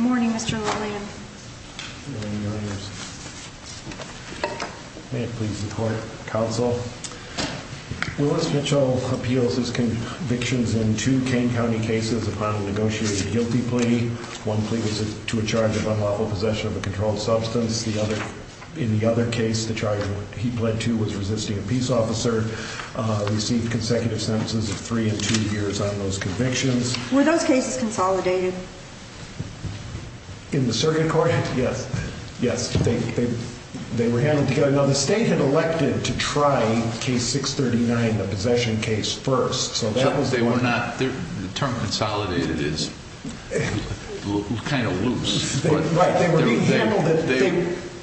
morning, Mr. Williams. Please support counsel. Willis Mitchell appeals his convictions in two Kane County cases upon negotiated guilty plea. One plea was to a charge of unlawful possession of a controlled substance. In the other case, the charge he pled to was resisting a peace officer, received consecutive sentences of three and two years on those convictions. Were those cases consolidated? In the circuit court, yes. Yes, they were handled together. Now, the state had elected to try case 639, the possession case, first. The term consolidated is kind of loose.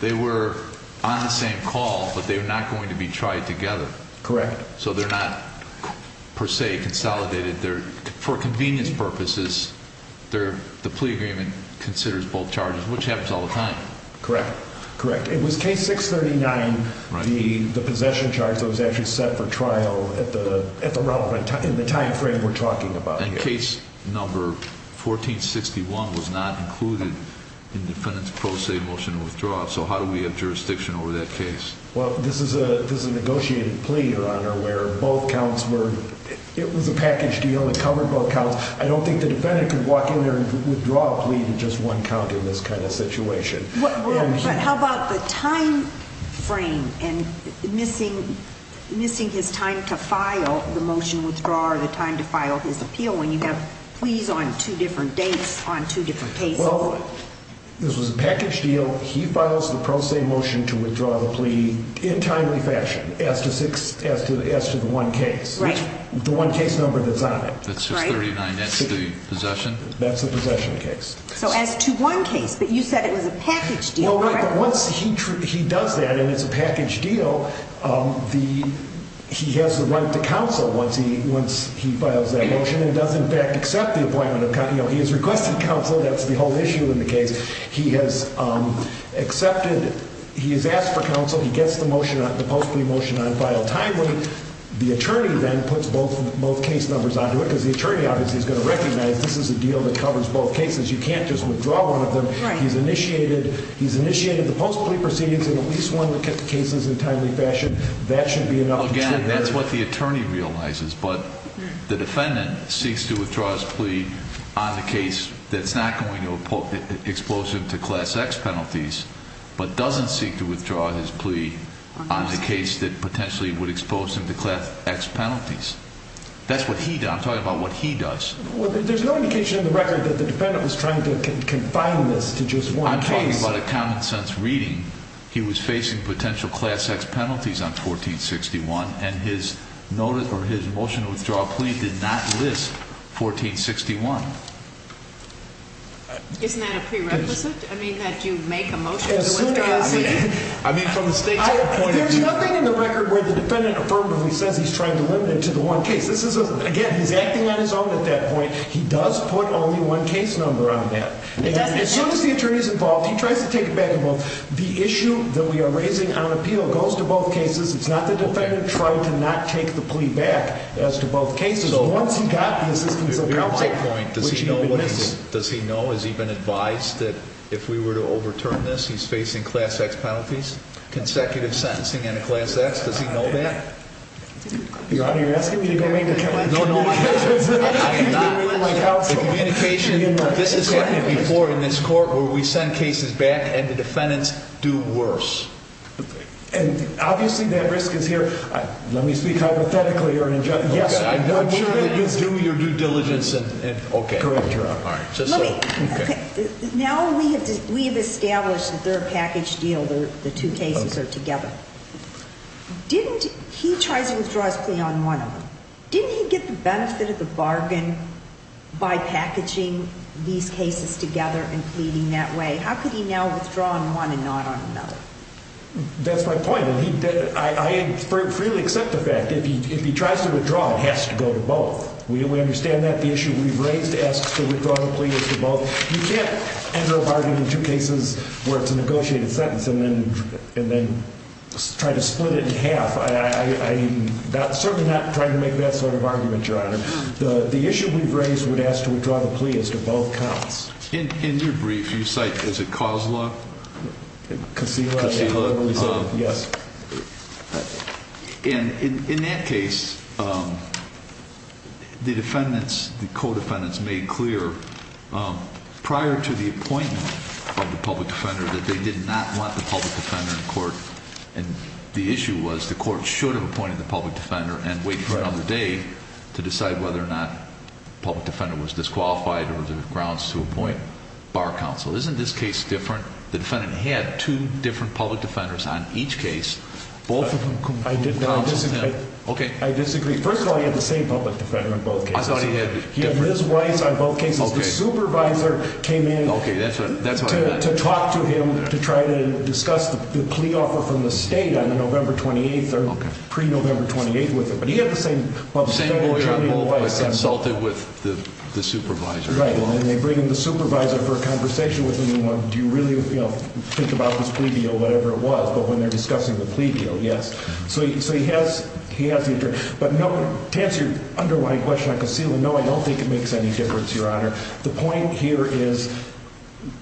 They were on the same call, but they were not going to be tried together. Correct. So they're not per se consolidated. For convenience purposes, the plea agreement considers both charges, which happens all the time. Correct. Correct. It was case 639, the possession charge that was actually set for trial in the time frame we're talking about. And case number 1461 was not included in the defendant's pro se motion to withdraw. So how do we have jurisdiction over that case? Well, this is a negotiated plea, Your Honor, where both counts were – it was a package deal. It covered both counts. I don't think the defendant could walk in there and withdraw a plea to just one count in this kind of situation. But how about the time frame and missing his time to file the motion withdraw or the time to file his appeal, when you have pleas on two different dates on two different cases? Well, this was a package deal. He files the pro se motion to withdraw the plea in timely fashion as to the one case, the one case number that's on it. That's just 39, that's the possession? That's the possession case. So as to one case, but you said it was a package deal. Well, once he does that and it's a package deal, he has the right to counsel once he files that motion The defendant does in fact accept the appointment of counsel. He has requested counsel. That's the whole issue in the case. He has accepted – he has asked for counsel. He gets the motion, the post plea motion on file timely. The attorney then puts both case numbers onto it because the attorney obviously is going to recognize this is a deal that covers both cases. You can't just withdraw one of them. He's initiated the post plea proceedings in at least one of the cases in timely fashion. That should be enough. Again, that's what the attorney realizes, but the defendant seeks to withdraw his plea on the case that's not going to expose him to class X penalties, but doesn't seek to withdraw his plea on the case that potentially would expose him to class X penalties. That's what he does. I'm talking about what he does. There's no indication in the record that the defendant was trying to confine this to just one case. I'm talking about a common sense reading. He was facing potential class X penalties on 1461, and his motion to withdraw a plea did not list 1461. Isn't that a prerequisite? I mean, that you make a motion to withdraw a plea? I mean, from the state's point of view. There's nothing in the record where the defendant affirmatively says he's trying to limit it to the one case. Again, he's acting on his own at that point. He does put only one case number on that. As soon as the attorney is involved, he tries to take it back. The issue that we are raising on appeal goes to both cases. It's not the defendant trying to not take the plea back as to both cases. Once he got the assistance of counsel. Does he know? Has he been advised that if we were to overturn this, he's facing class X penalties, consecutive sentencing and a class X? Does he know that? You're asking me to go make a complaint? No, no. The communication, this has happened before in this court where we send cases back and the defendants do worse. And obviously that risk is here. Let me speak hypothetically or in general. Yes. Do your due diligence. Okay. Correct, Your Honor. Now we have established that they're a package deal. The two cases are together. Didn't he try to withdraw his plea on one of them? Didn't he get the benefit of the bargain by packaging these cases together and pleading that way? How could he now withdraw on one and not on another? That's my point. I freely accept the fact that if he tries to withdraw, it has to go to both. We understand that. The issue we've raised asks to withdraw the plea as to both. You can't enter a bargain in two cases where it's a negotiated sentence and then try to split it in half. I'm certainly not trying to make that sort of argument, Your Honor. The issue we've raised would ask to withdraw the plea as to both counts. In your brief, you cite, is it Kozloff? Koseyla. Koseyla. Yes. And in that case, the defendants, the co-defendants made clear prior to the appointment of the public defender that they did not want the public defender in court. And the issue was the court should have appointed the public defender and waited for another day to decide whether or not the public defender was disqualified or there were grounds to appoint bar counsel. Isn't this case different? The defendant had two different public defenders on each case. Both of them could counsel him. I disagree. First of all, he had the same public defender on both cases. I thought he had. He had Ms. Weiss on both cases. The supervisor came in to talk to him to try to discuss the plea offer from the state on the November 28th or pre-November 28th with him. But he had the same public defender. The same lawyer on both but consulted with the supervisor. Right. And they bring in the supervisor for a conversation with him. Do you really think about this plea deal, whatever it was, but when they're discussing the plea deal, yes. So he has the attorney. But to answer your underlying question on concealment, no, I don't think it makes any difference, Your Honor. The point here is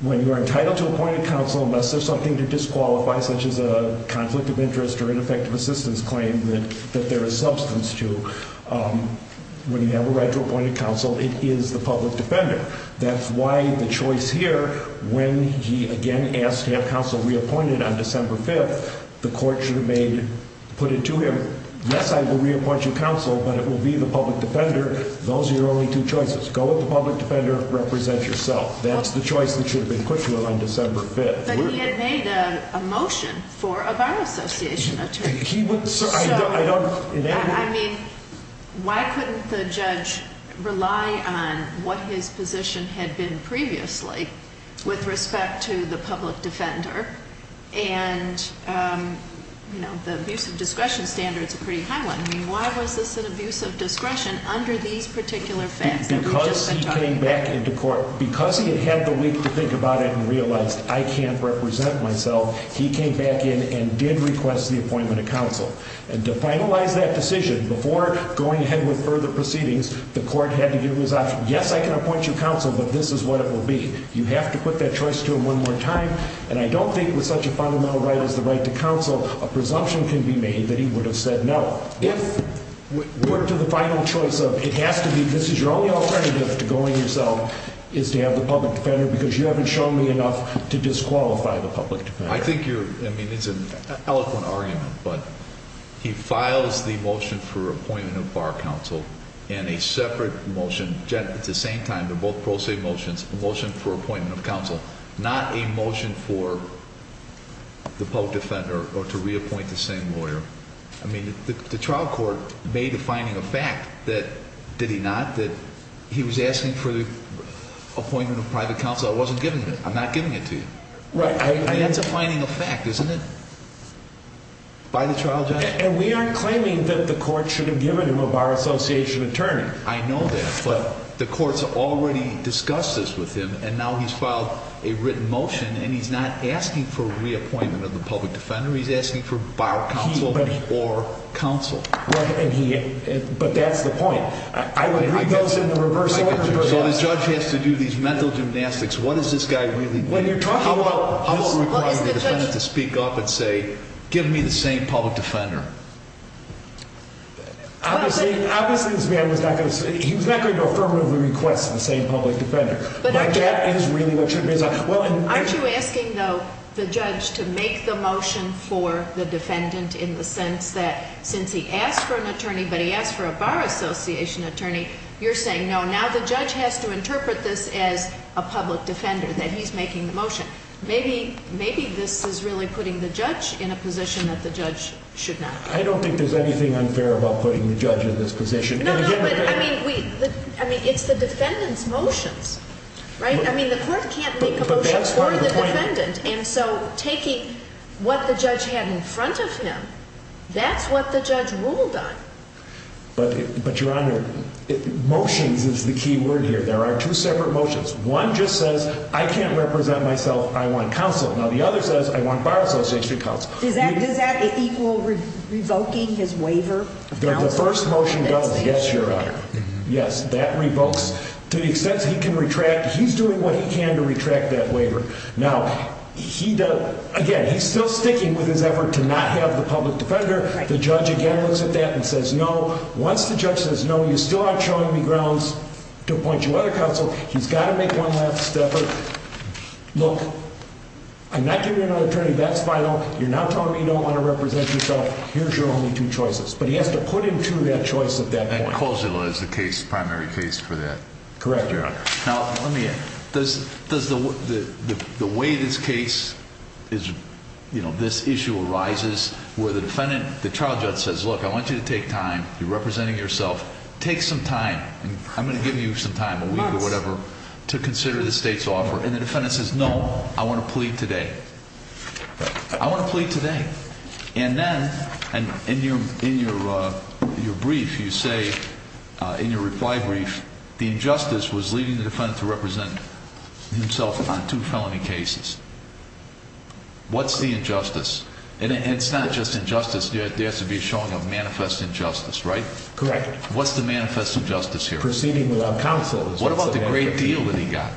when you are entitled to appoint a counsel, unless there's something to disqualify, such as a conflict of interest or ineffective assistance claim that there is substance to, when you have a right to appoint a counsel, it is the public defender. That's why the choice here, when he, again, asked to have counsel reappointed on December 5th, the court should have made, put it to him, yes, I will reappoint you counsel, but it will be the public defender. Those are your only two choices. Go with the public defender. Represent yourself. That's the choice that should have been put to him on December 5th. But he had made a motion for a Bar Association attorney. So, I mean, why couldn't the judge rely on what his position had been previously with respect to the public defender? And, you know, the abuse of discretion standard's a pretty high one. I mean, why was this an abuse of discretion under these particular facts that we've just been talking about? Because he had had the week to think about it and realized, I can't represent myself, he came back in and did request the appointment of counsel. And to finalize that decision, before going ahead with further proceedings, the court had to give him his option. Yes, I can appoint you counsel, but this is what it will be. You have to put that choice to him one more time. And I don't think with such a fundamental right as the right to counsel, a presumption can be made that he would have said no. So, if we're to the final choice of, it has to be, this is your only alternative to going yourself, is to have the public defender. Because you haven't shown me enough to disqualify the public defender. I think you're, I mean, it's an eloquent argument, but he files the motion for appointment of bar counsel in a separate motion. At the same time, they're both pro se motions. A motion for appointment of counsel, not a motion for the public defender or to reappoint the same lawyer. I mean, the trial court made a finding of fact that, did he not, that he was asking for the appointment of private counsel. I wasn't giving it. I'm not giving it to you. Right. That's a finding of fact, isn't it, by the trial judge? And we aren't claiming that the court should have given him a bar association attorney. I know that, but the court's already discussed this with him, and now he's filed a written motion, and he's not asking for reappointment of the public defender. He's asking for bar counsel or counsel. But that's the point. I would read those in the reverse order. So the judge has to do these mental gymnastics. What is this guy really doing? How about requiring the defendant to speak up and say, give me the same public defender? Obviously, this man was not going to, he was not going to affirmatively request the same public defender. But that is really what you're doing. Aren't you asking, though, the judge to make the motion for the defendant in the sense that since he asked for an attorney, but he asked for a bar association attorney, you're saying, no, now the judge has to interpret this as a public defender, that he's making the motion. Maybe this is really putting the judge in a position that the judge should not be. I don't think there's anything unfair about putting the judge in this position. No, no, but, I mean, it's the defendant's motions, right? I mean, the court can't make a motion for the defendant. But that's part of the point. And so taking what the judge had in front of him, that's what the judge ruled on. But, Your Honor, motions is the key word here. There are two separate motions. One just says, I can't represent myself, I want counsel. Now, the other says, I want bar association counsel. Does that equal revoking his waiver of counsel? The first motion does, yes, Your Honor. Yes, that revokes. To the extent he can retract, he's doing what he can to retract that waiver. Now, he does, again, he's still sticking with his effort to not have the public defender. The judge again looks at that and says, no. Once the judge says, no, you still aren't showing me grounds to appoint you other counsel, he's got to make one last step. Look, I'm not giving you another attorney, that's final. You're now telling me you don't want to represent yourself. Here's your only two choices. But he has to put into that choice at that point. And Calzillo is the case, primary case for that. Correct, Your Honor. Now, let me ask, does the way this case is, you know, this issue arises where the defendant, the trial judge says, look, I want you to take time. You're representing yourself. Take some time. I'm going to give you some time, a week or whatever, to consider the state's offer. And the defendant says, no, I want to plead today. I want to plead today. And then, in your brief, you say, in your reply brief, the injustice was leading the defendant to represent himself on two felony cases. What's the injustice? And it's not just injustice. There has to be a showing of manifest injustice, right? Correct. What's the manifest injustice here? Proceeding without counsel. What about the great deal that he got?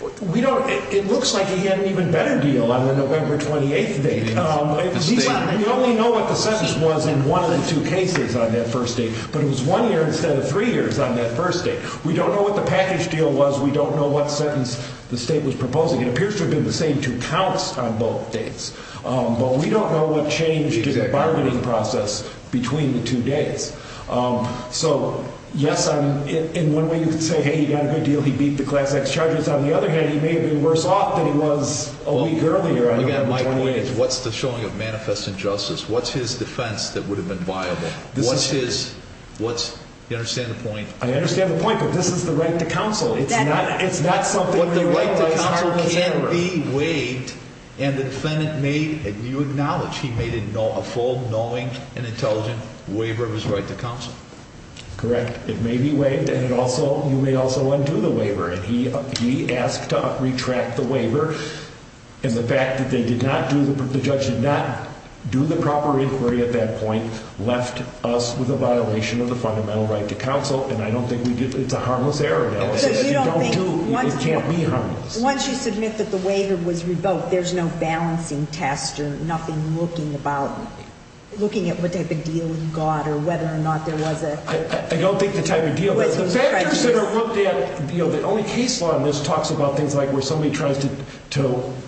It looks like he had an even better deal on the November 28th date. We only know what the sentence was in one of the two cases on that first date. But it was one year instead of three years on that first date. We don't know what the package deal was. We don't know what sentence the state was proposing. It appears to have been the same two counts on both dates. But we don't know what changed in the bargaining process between the two dates. So, yes, in one way you could say, hey, he got a good deal. He beat the class X charges. On the other hand, he may have been worse off than he was a week earlier on November 28th. Again, my point is, what's the showing of manifest injustice? What's his defense that would have been viable? What's his – you understand the point? I understand the point, but this is the right to counsel. But the right to counsel can be waived. And the defendant may – you acknowledge he made a full, knowing, and intelligent waiver of his right to counsel. Correct. It may be waived. And it also – you may also undo the waiver. And he asked to retract the waiver. And the fact that they did not do – the judge did not do the proper inquiry at that point left us with a violation of the fundamental right to counsel. And I don't think we did – it's a harmless error. So you don't think – It can't be harmless. Once you submit that the waiver was revoked, there's no balancing test or nothing looking about – looking at what type of deal he got or whether or not there was a – I don't think the type of deal. The factors that are looked at – the only case law in this talks about things like where somebody tries to –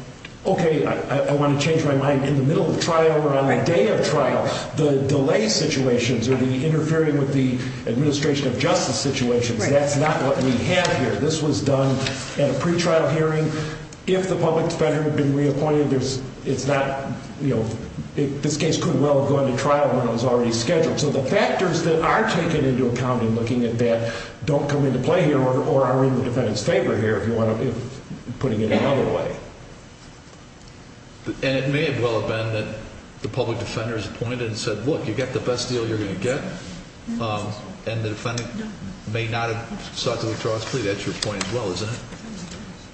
okay, I want to change my mind in the middle of trial or on the day of trial. The delay situations or the interfering with the administration of justice situations, that's not what we have here. This was done at a pretrial hearing. If the public defender had been reappointed, there's – it's not – this case could well have gone to trial when it was already scheduled. So the factors that are taken into account in looking at that don't come into play here or are in the defendant's favor here if you want to – putting it another way. And it may well have been that the public defender is appointed and said, look, you got the best deal you're going to get, and the defendant may not have sought to withdraw his plea. That's your point as well, isn't it?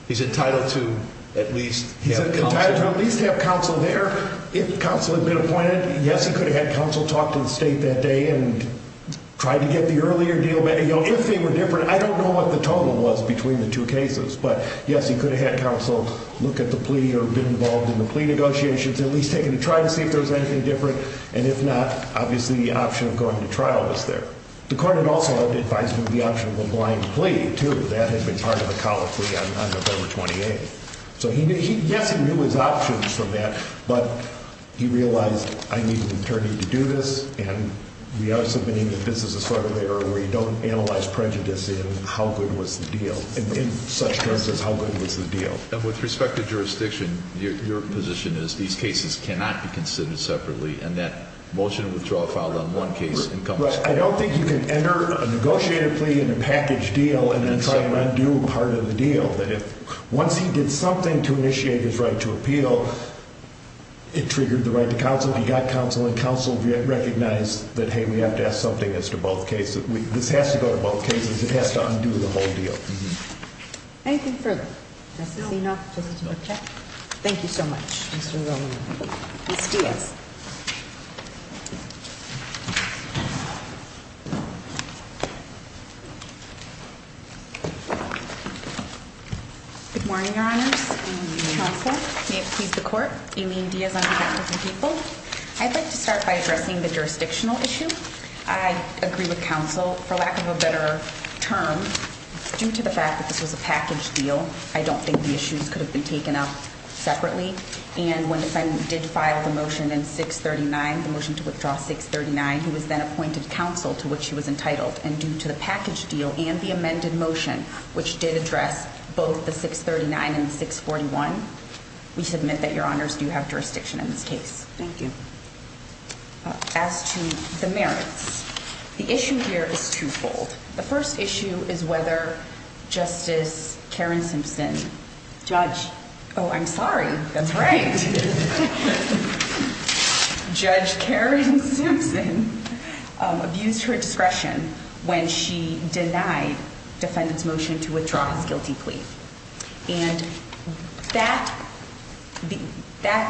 He's entitled to at least have counsel. He's entitled to at least have counsel there if counsel had been appointed. Yes, he could have had counsel talk to the state that day and try to get the earlier deal – if they were different. And I don't know what the total was between the two cases, but yes, he could have had counsel look at the plea or been involved in the plea negotiations, at least taking a try to see if there was anything different. And if not, obviously the option of going to trial was there. The court had also advised him of the option of a blind plea, too. That had been part of the college plea on November 28th. So yes, he knew his options from that, but he realized, I need an attorney to do this, and we also have been in the business of sort of error where you don't analyze prejudice in how good was the deal, in such terms as how good was the deal. And with respect to jurisdiction, your position is these cases cannot be considered separately, and that motion to withdraw a file on one case – I don't think you can enter a negotiated plea in a package deal and then try to undo part of the deal. Once he did something to initiate his right to appeal, it triggered the right to counsel. He got counsel, and counsel recognized that, hey, we have to ask something as to both cases. This has to go to both cases. It has to undo the whole deal. Anything further? No. Thank you so much, Mr. Romero. Ms. Diaz. Good morning, Your Honors. Counsel, may it please the Court. Amy Diaz on behalf of the people. I'd like to start by addressing the jurisdictional issue. I agree with counsel. For lack of a better term, due to the fact that this was a package deal, I don't think the issues could have been taken up separately. And when the defendant did file the motion in 639, the motion to withdraw 639, he was then appointed counsel to which he was entitled. And due to the package deal and the amended motion, which did address both the 639 and 641, we submit that Your Honors do have jurisdiction in this case. Thank you. As to the merits, the issue here is twofold. The first issue is whether Justice Karen Simpson. Judge. Oh, I'm sorry. That's right. Judge Karen Simpson abused her discretion when she denied defendant's motion to withdraw his guilty plea. And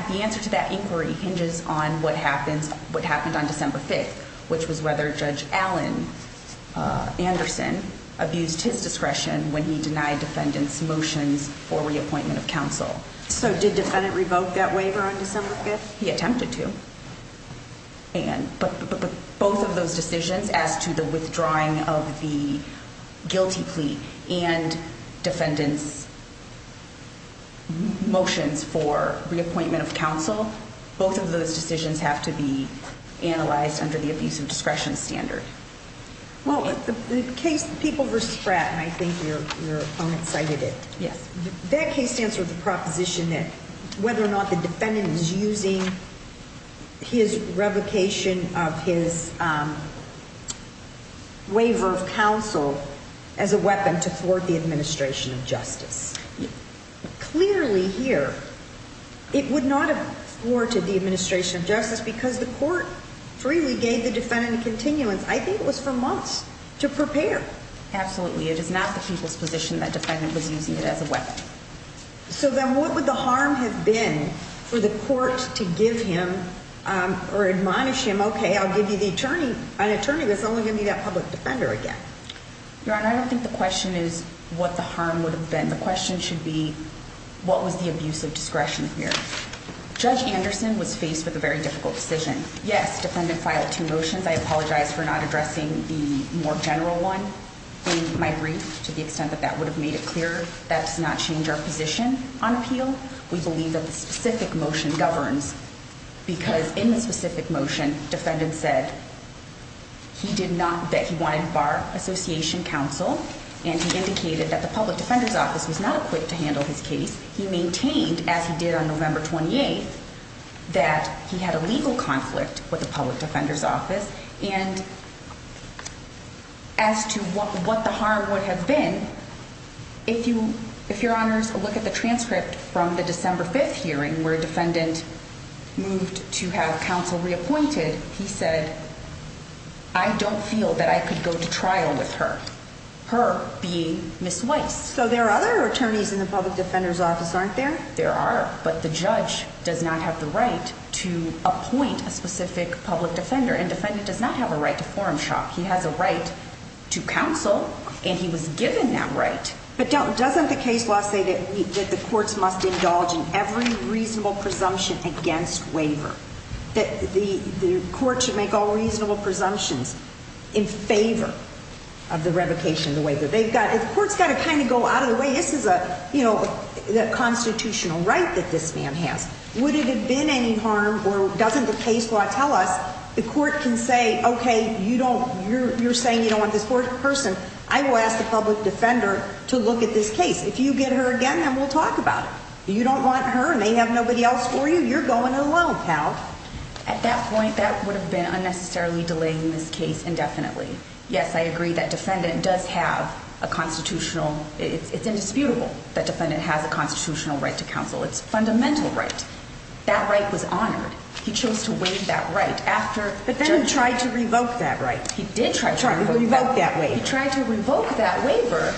the answer to that inquiry hinges on what happened on December 5th, which was whether Judge Allen Anderson abused his discretion when he denied defendant's motions for reappointment of counsel. So did defendant revoke that waiver on December 5th? He attempted to. But both of those decisions as to the withdrawing of the guilty plea and defendant's motions for reappointment of counsel, both of those decisions have to be analyzed under the abuse of discretion standard. Well, the case, People v. Pratt, and I think your opponent cited it. Yes. That case stands for the proposition that whether or not the defendant is using his revocation of his waiver of counsel as a weapon to thwart the administration of justice. Clearly here, it would not have thwarted the administration of justice because the court freely gave the defendant continuance. I think it was for months to prepare. Absolutely. It is not the people's position that defendant was using it as a weapon. So then what would the harm have been for the court to give him or admonish him? Okay, I'll give you the attorney, an attorney that's only going to be that public defender again. Your Honor, I don't think the question is what the harm would have been. The question should be what was the abuse of discretion here? Judge Anderson was faced with a very difficult decision. Yes, defendant filed two motions. I apologize for not addressing the more general one in my brief to the extent that that would have made it clearer. That does not change our position on appeal. We believe that the specific motion governs because in the specific motion, defendant said he did not, that he wanted Bar Association counsel. And he indicated that the public defender's office was not equipped to handle his case. He maintained, as he did on November 28th, that he had a legal conflict with the public defender's office. And as to what the harm would have been, if your Honor is to look at the transcript from the December 5th hearing where defendant moved to have counsel reappointed, he said, I don't feel that I could go to trial with her, her being Ms. Weiss. So there are other attorneys in the public defender's office, aren't there? There are, but the judge does not have the right to appoint a specific public defender. And defendant does not have a right to forum shop. He has a right to counsel, and he was given that right. But doesn't the case law say that the courts must indulge in every reasonable presumption against waiver? That the court should make all reasonable presumptions in favor of the revocation of the waiver? The court's got to kind of go out of the way. This is a constitutional right that this man has. Would it have been any harm, or doesn't the case law tell us, the court can say, okay, you're saying you don't want this person. I will ask the public defender to look at this case. If you get her again, then we'll talk about it. You don't want her and they have nobody else for you, you're going alone, pal. At that point, that would have been unnecessarily delaying this case indefinitely. Yes, I agree that defendant does have a constitutional, it's indisputable that defendant has a constitutional right to counsel. It's a fundamental right. That right was honored. He chose to waive that right. But then he tried to revoke that right. He did try to revoke that waiver. He tried to revoke that waiver,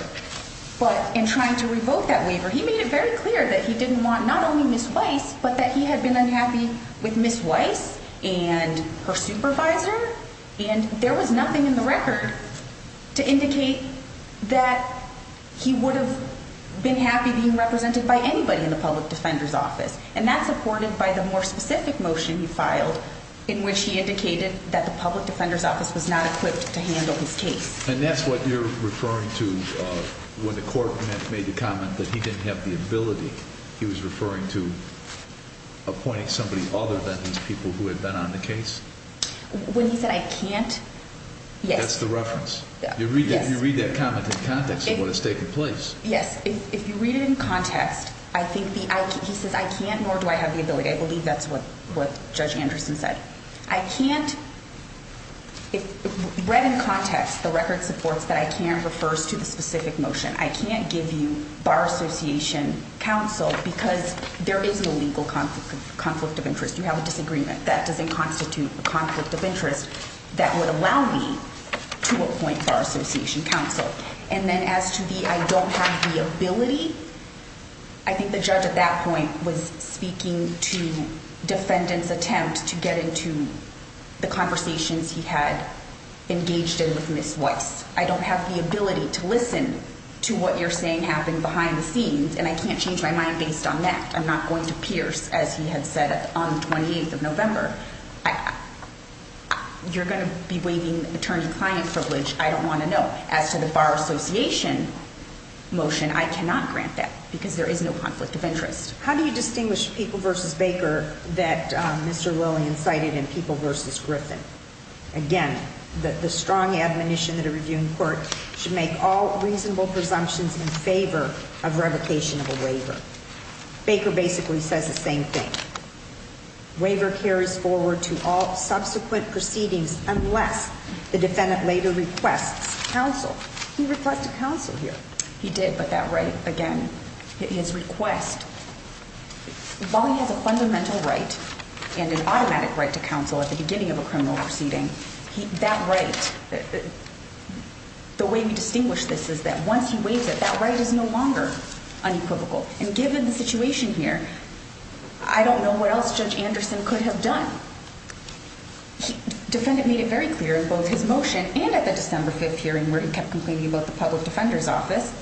but in trying to revoke that waiver, he made it very clear that he didn't want not only Ms. Weiss, but that he had been unhappy with Ms. Weiss and her supervisor, and there was nothing in the record to indicate that he would have been happy being represented by anybody in the public defender's office. And that's supported by the more specific motion he filed in which he indicated that the public defender's office was not equipped to handle his case. And that's what you're referring to when the court made the comment that he didn't have the ability. He was referring to appointing somebody other than these people who had been on the case? When he said I can't, yes. That's the reference. You read that comment in context of what is taking place. Yes. If you read it in context, I think he says I can't nor do I have the ability. I believe that's what Judge Anderson said. I can't read in context the record supports that I can refers to the specific motion. I can't give you bar association counsel because there is no legal conflict of interest. You have a disagreement. That doesn't constitute a conflict of interest that would allow me to appoint bar association counsel. And then as to the I don't have the ability, I think the judge at that point was speaking to defendant's attempt to get into the conversations he had engaged in with Ms. Weiss. I don't have the ability to listen to what you're saying happened behind the scenes, and I can't change my mind based on that. I'm not going to pierce, as he had said, on the 28th of November. You're going to be waiving attorney-client privilege. I don't want to know. As to the bar association motion, I cannot grant that because there is no conflict of interest. How do you distinguish People v. Baker that Mr. Lillian cited and People v. Griffin? Again, the strong admonition that a reviewing court should make all reasonable presumptions in favor of revocation of a waiver. Baker basically says the same thing. Waiver carries forward to all subsequent proceedings unless the defendant later requests counsel. He requested counsel here. He did, but that right, again, his request. While he has a fundamental right and an automatic right to counsel at the beginning of a criminal proceeding, that right, the way we distinguish this is that once he waives it, that right is no longer unequivocal. And given the situation here, I don't know what else Judge Anderson could have done. The defendant made it very clear in both his motion and at the December 5th hearing where he kept complaining about the public defender's office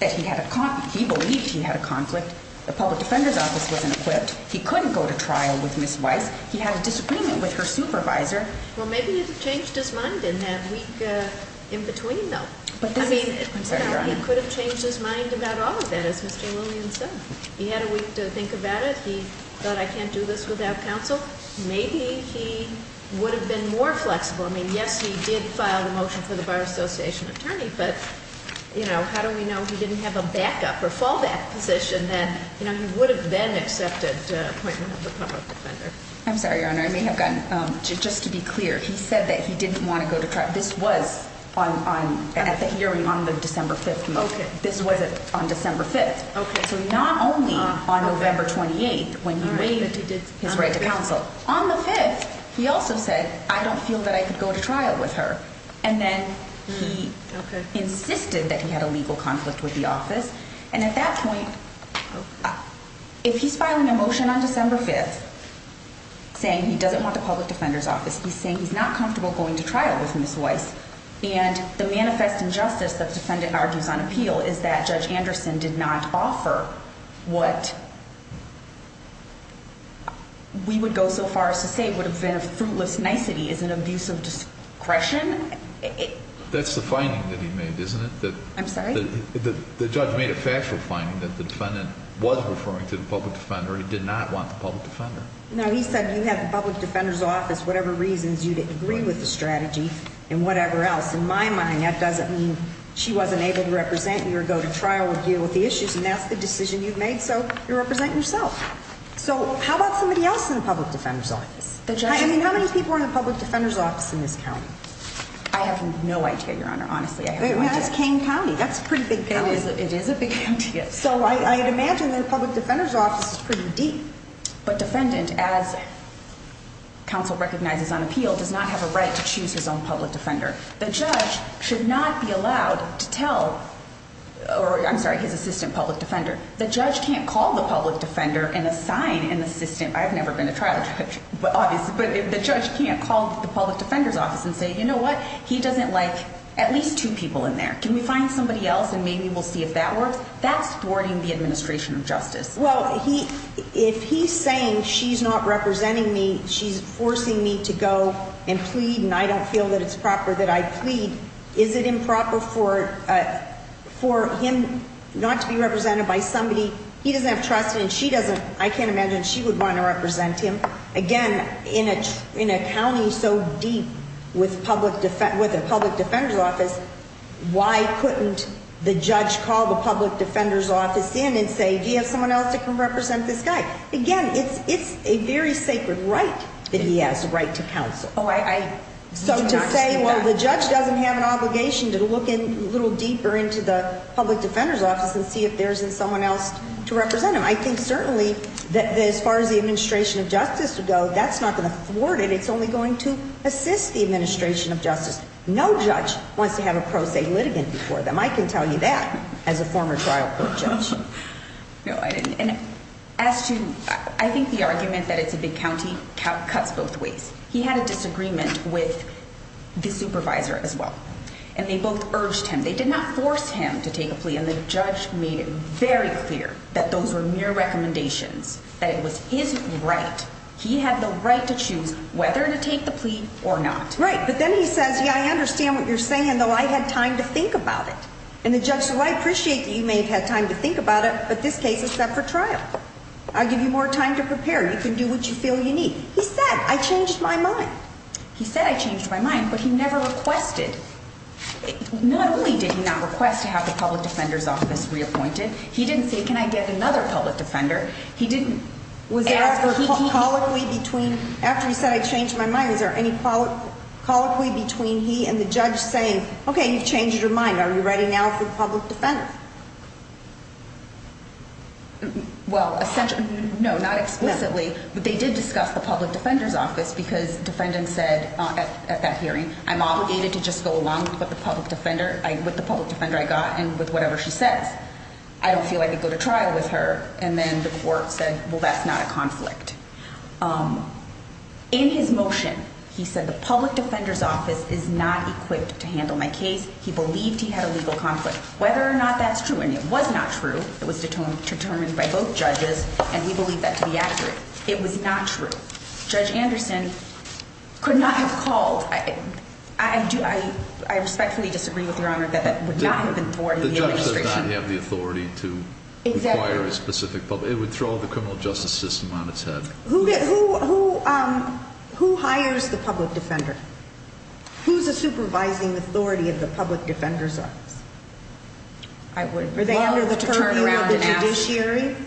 that he believed he had a conflict. The public defender's office wasn't equipped. He couldn't go to trial with Ms. Weiss. He had a disagreement with her supervisor. Well, maybe he changed his mind in that week in between, though. I mean, he could have changed his mind about all of that, as Mr. Lillian said. He had a week to think about it. He thought, I can't do this without counsel. Maybe he would have been more flexible. I mean, yes, he did file the motion for the Bar Association attorney, but, you know, how do we know he didn't have a backup or fallback position that, you know, he would have then accepted an appointment with the public defender? I'm sorry, Your Honor. I may have gotten, just to be clear, he said that he didn't want to go to trial. This was on, at the hearing on the December 5th motion. This was on December 5th. So not only on November 28th when he waived his right to counsel, on the 5th he also said, I don't feel that I could go to trial with her. And then he insisted that he had a legal conflict with the office. And at that point, if he's filing a motion on December 5th saying he doesn't want the public defender's office, he's saying he's not comfortable going to trial with Ms. Weiss. And the manifest injustice that the defendant argues on appeal is that Judge Anderson did not offer what we would go so far as to say would have been a fruitless nicety is an abuse of discretion. That's the finding that he made, isn't it? I'm sorry? The judge made a factual finding that the defendant was referring to the public defender. He did not want the public defender. No, he said you have the public defender's office, whatever reasons you'd agree with the strategy and whatever else. In my mind, that doesn't mean she wasn't able to represent you or go to trial with you with the issues. And that's the decision you've made. So you represent yourself. So how about somebody else in the public defender's office? I mean, how many people are in the public defender's office in this county? I have no idea, Your Honor. Honestly, I have no idea. That is Kane County. That's a pretty big county. It is a big county, yes. So I imagine the public defender's office is pretty deep. But defendant, as counsel recognizes on appeal, does not have a right to choose his own public defender. The judge should not be allowed to tell his assistant public defender. The judge can't call the public defender and assign an assistant. I've never been a trial judge, obviously. But the judge can't call the public defender's office and say, you know what, he doesn't like at least two people in there. Can we find somebody else and maybe we'll see if that works? That's thwarting the administration of justice. Well, if he's saying she's not representing me, she's forcing me to go and plead, and I don't feel that it's proper that I plead, is it improper for him not to be represented by somebody he doesn't have trust in? She doesn't. I can't imagine she would want to represent him. Again, in a county so deep with a public defender's office, why couldn't the judge call the public defender's office in and say, do you have someone else that can represent this guy? Again, it's a very sacred right that he has, the right to counsel. Oh, I do not see that. So to say, well, the judge doesn't have an obligation to look a little deeper into the public defender's office and see if there isn't someone else to represent him. I think certainly that as far as the administration of justice would go, that's not going to thwart it. It's only going to assist the administration of justice. No judge wants to have a pro se litigant before them. I can tell you that as a former trial court judge. No, I didn't. And as to, I think the argument that it's a big county cuts both ways. He had a disagreement with the supervisor as well, and they both urged him. They did not force him to take a plea, and the judge made it very clear that those were mere recommendations, that it was his right. He had the right to choose whether to take the plea or not. Right, but then he says, yeah, I understand what you're saying, though I had time to think about it. And the judge said, well, I appreciate that you may have had time to think about it, but this case is set for trial. I'll give you more time to prepare. You can do what you feel you need. He said, I changed my mind. He said, I changed my mind, but he never requested. Not only did he not request to have the public defender's office reappointed, he didn't say, can I get another public defender? He didn't. Was there a colloquy between, after he said I changed my mind, is there any colloquy between he and the judge saying, okay, you've changed your mind. Are you ready now for the public defender? Well, no, not explicitly, but they did discuss the public defender's office because the defendant said at that hearing, I'm obligated to just go along with the public defender I got and with whatever she says. I don't feel I could go to trial with her. And then the court said, well, that's not a conflict. In his motion, he said the public defender's office is not equipped to handle my case. He believed he had a legal conflict. Whether or not that's true, and it was not true, it was determined by both judges, and we believe that to be accurate. It was not true. Judge Anderson could not have called. I respectfully disagree with Your Honor that that would not have been the authority of the administration. The judge does not have the authority to require a specific public. It would throw the criminal justice system on its head. Who hires the public defender? Who's the supervising authority of the public defender's office? I would love to turn around and ask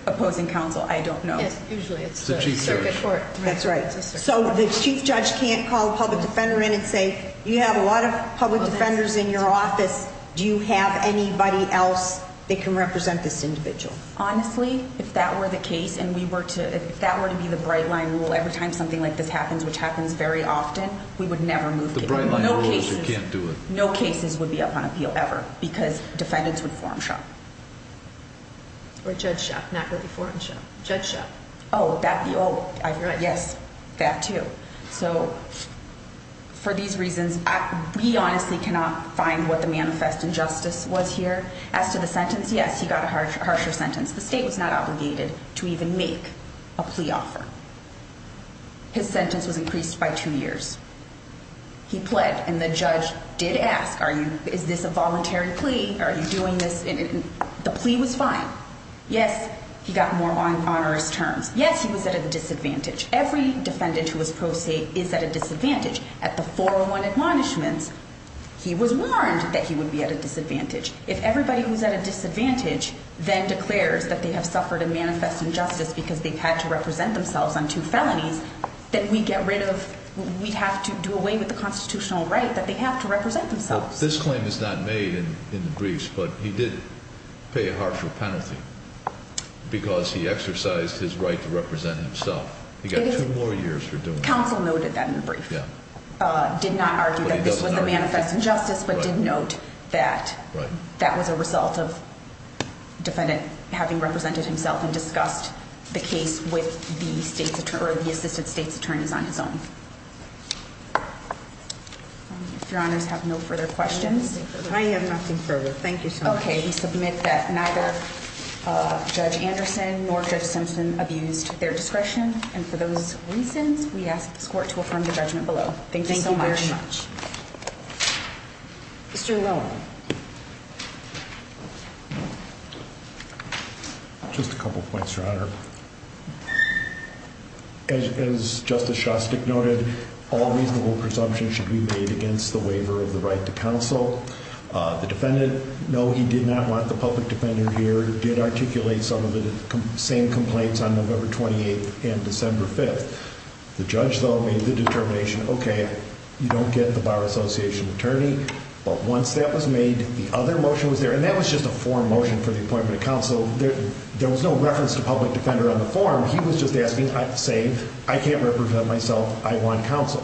opposing counsel. I don't know. Usually it's the circuit court. That's right. So the chief judge can't call the public defender in and say, you have a lot of public defenders in your office. Do you have anybody else that can represent this individual? Honestly, if that were the case and if that were to be the bright line rule, every time something like this happens, which happens very often, we would never move to it. The bright line rule is you can't do it. No cases would be up on appeal ever because defendants would form shop. Or judge shop, not really form shop. Judge shop. Oh, yes, that too. So for these reasons, we honestly cannot find what the manifest injustice was here. As to the sentence, yes, he got a harsher sentence. The state was not obligated to even make a plea offer. His sentence was increased by two years. He pled, and the judge did ask, is this a voluntary plea? Are you doing this? The plea was fine. Yes, he got more onerous terms. Yes, he was at a disadvantage. Every defendant who was pro se is at a disadvantage. At the 401 admonishments, he was warned that he would be at a disadvantage. If everybody who's at a disadvantage then declares that they have suffered a manifest injustice because they've had to represent themselves on two felonies, then we'd have to do away with the constitutional right that they have to represent themselves. This claim is not made in the briefs, but he did pay a harsher penalty because he exercised his right to represent himself. He got two more years for doing that. Counsel noted that in the brief. He did not argue that this was a manifest injustice, but did note that that was a result of the defendant having represented himself and discussed the case with the assisted state's attorneys on his own. If your honors have no further questions. I have nothing further. Thank you so much. Okay, we submit that neither Judge Anderson nor Judge Simpson abused their discretion, and for those reasons, we ask this court to affirm the judgment below. Thank you so much. Thank you very much. Mr. Lowen. Just a couple points, Your Honor. As Justice Shostak noted, all reasonable presumptions should be made against the waiver of the right to counsel. The defendant, no, he did not want the public defender here. The public defender did articulate some of the same complaints on November 28th and December 5th. The judge, though, made the determination, okay, you don't get the bar association attorney. But once that was made, the other motion was there, and that was just a form motion for the appointment of counsel. There was no reference to public defender on the form. He was just asking, say, I can't represent myself. I want counsel.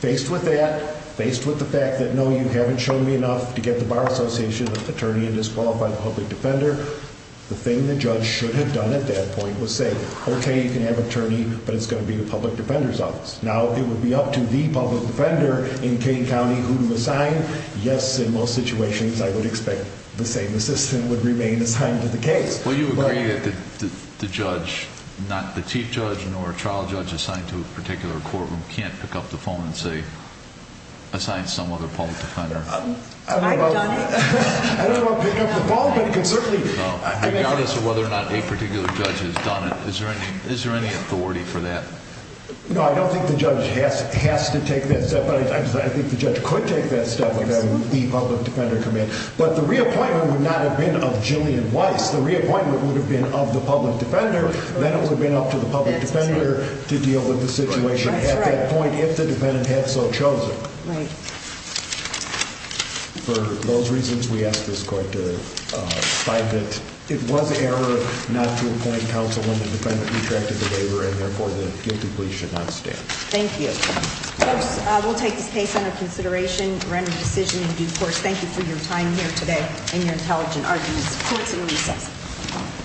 Faced with that, faced with the fact that, no, you haven't shown me enough to get the bar association attorney and disqualify the public defender, the thing the judge should have done at that point was say, okay, you can have attorney, but it's going to be the public defender's office. Now, it would be up to the public defender in Kane County who to assign. Yes, in most situations, I would expect the same assistant would remain assigned to the case. Well, you agree that the judge, not the chief judge nor trial judge assigned to a particular courtroom, can't pick up the phone and say, assign some other public defender. I don't know. I don't want to pick up the phone, but it could certainly be. Regardless of whether or not a particular judge has done it, is there any authority for that? No, I don't think the judge has to take that step, but I think the judge could take that step without the public defender coming in. But the reappointment would not have been of Jillian Weiss. The reappointment would have been of the public defender. Then it would have been up to the public defender to deal with the situation at that point if the defendant had so chosen. Right. For those reasons, we ask this court to find that it was error not to appoint counsel when the defendant retracted the waiver, and therefore the guilty plea should not stand. Thank you. Of course, we'll take this case under consideration, render a decision in due course. Thank you for your time here today and your intelligent arguments. Court is in recess.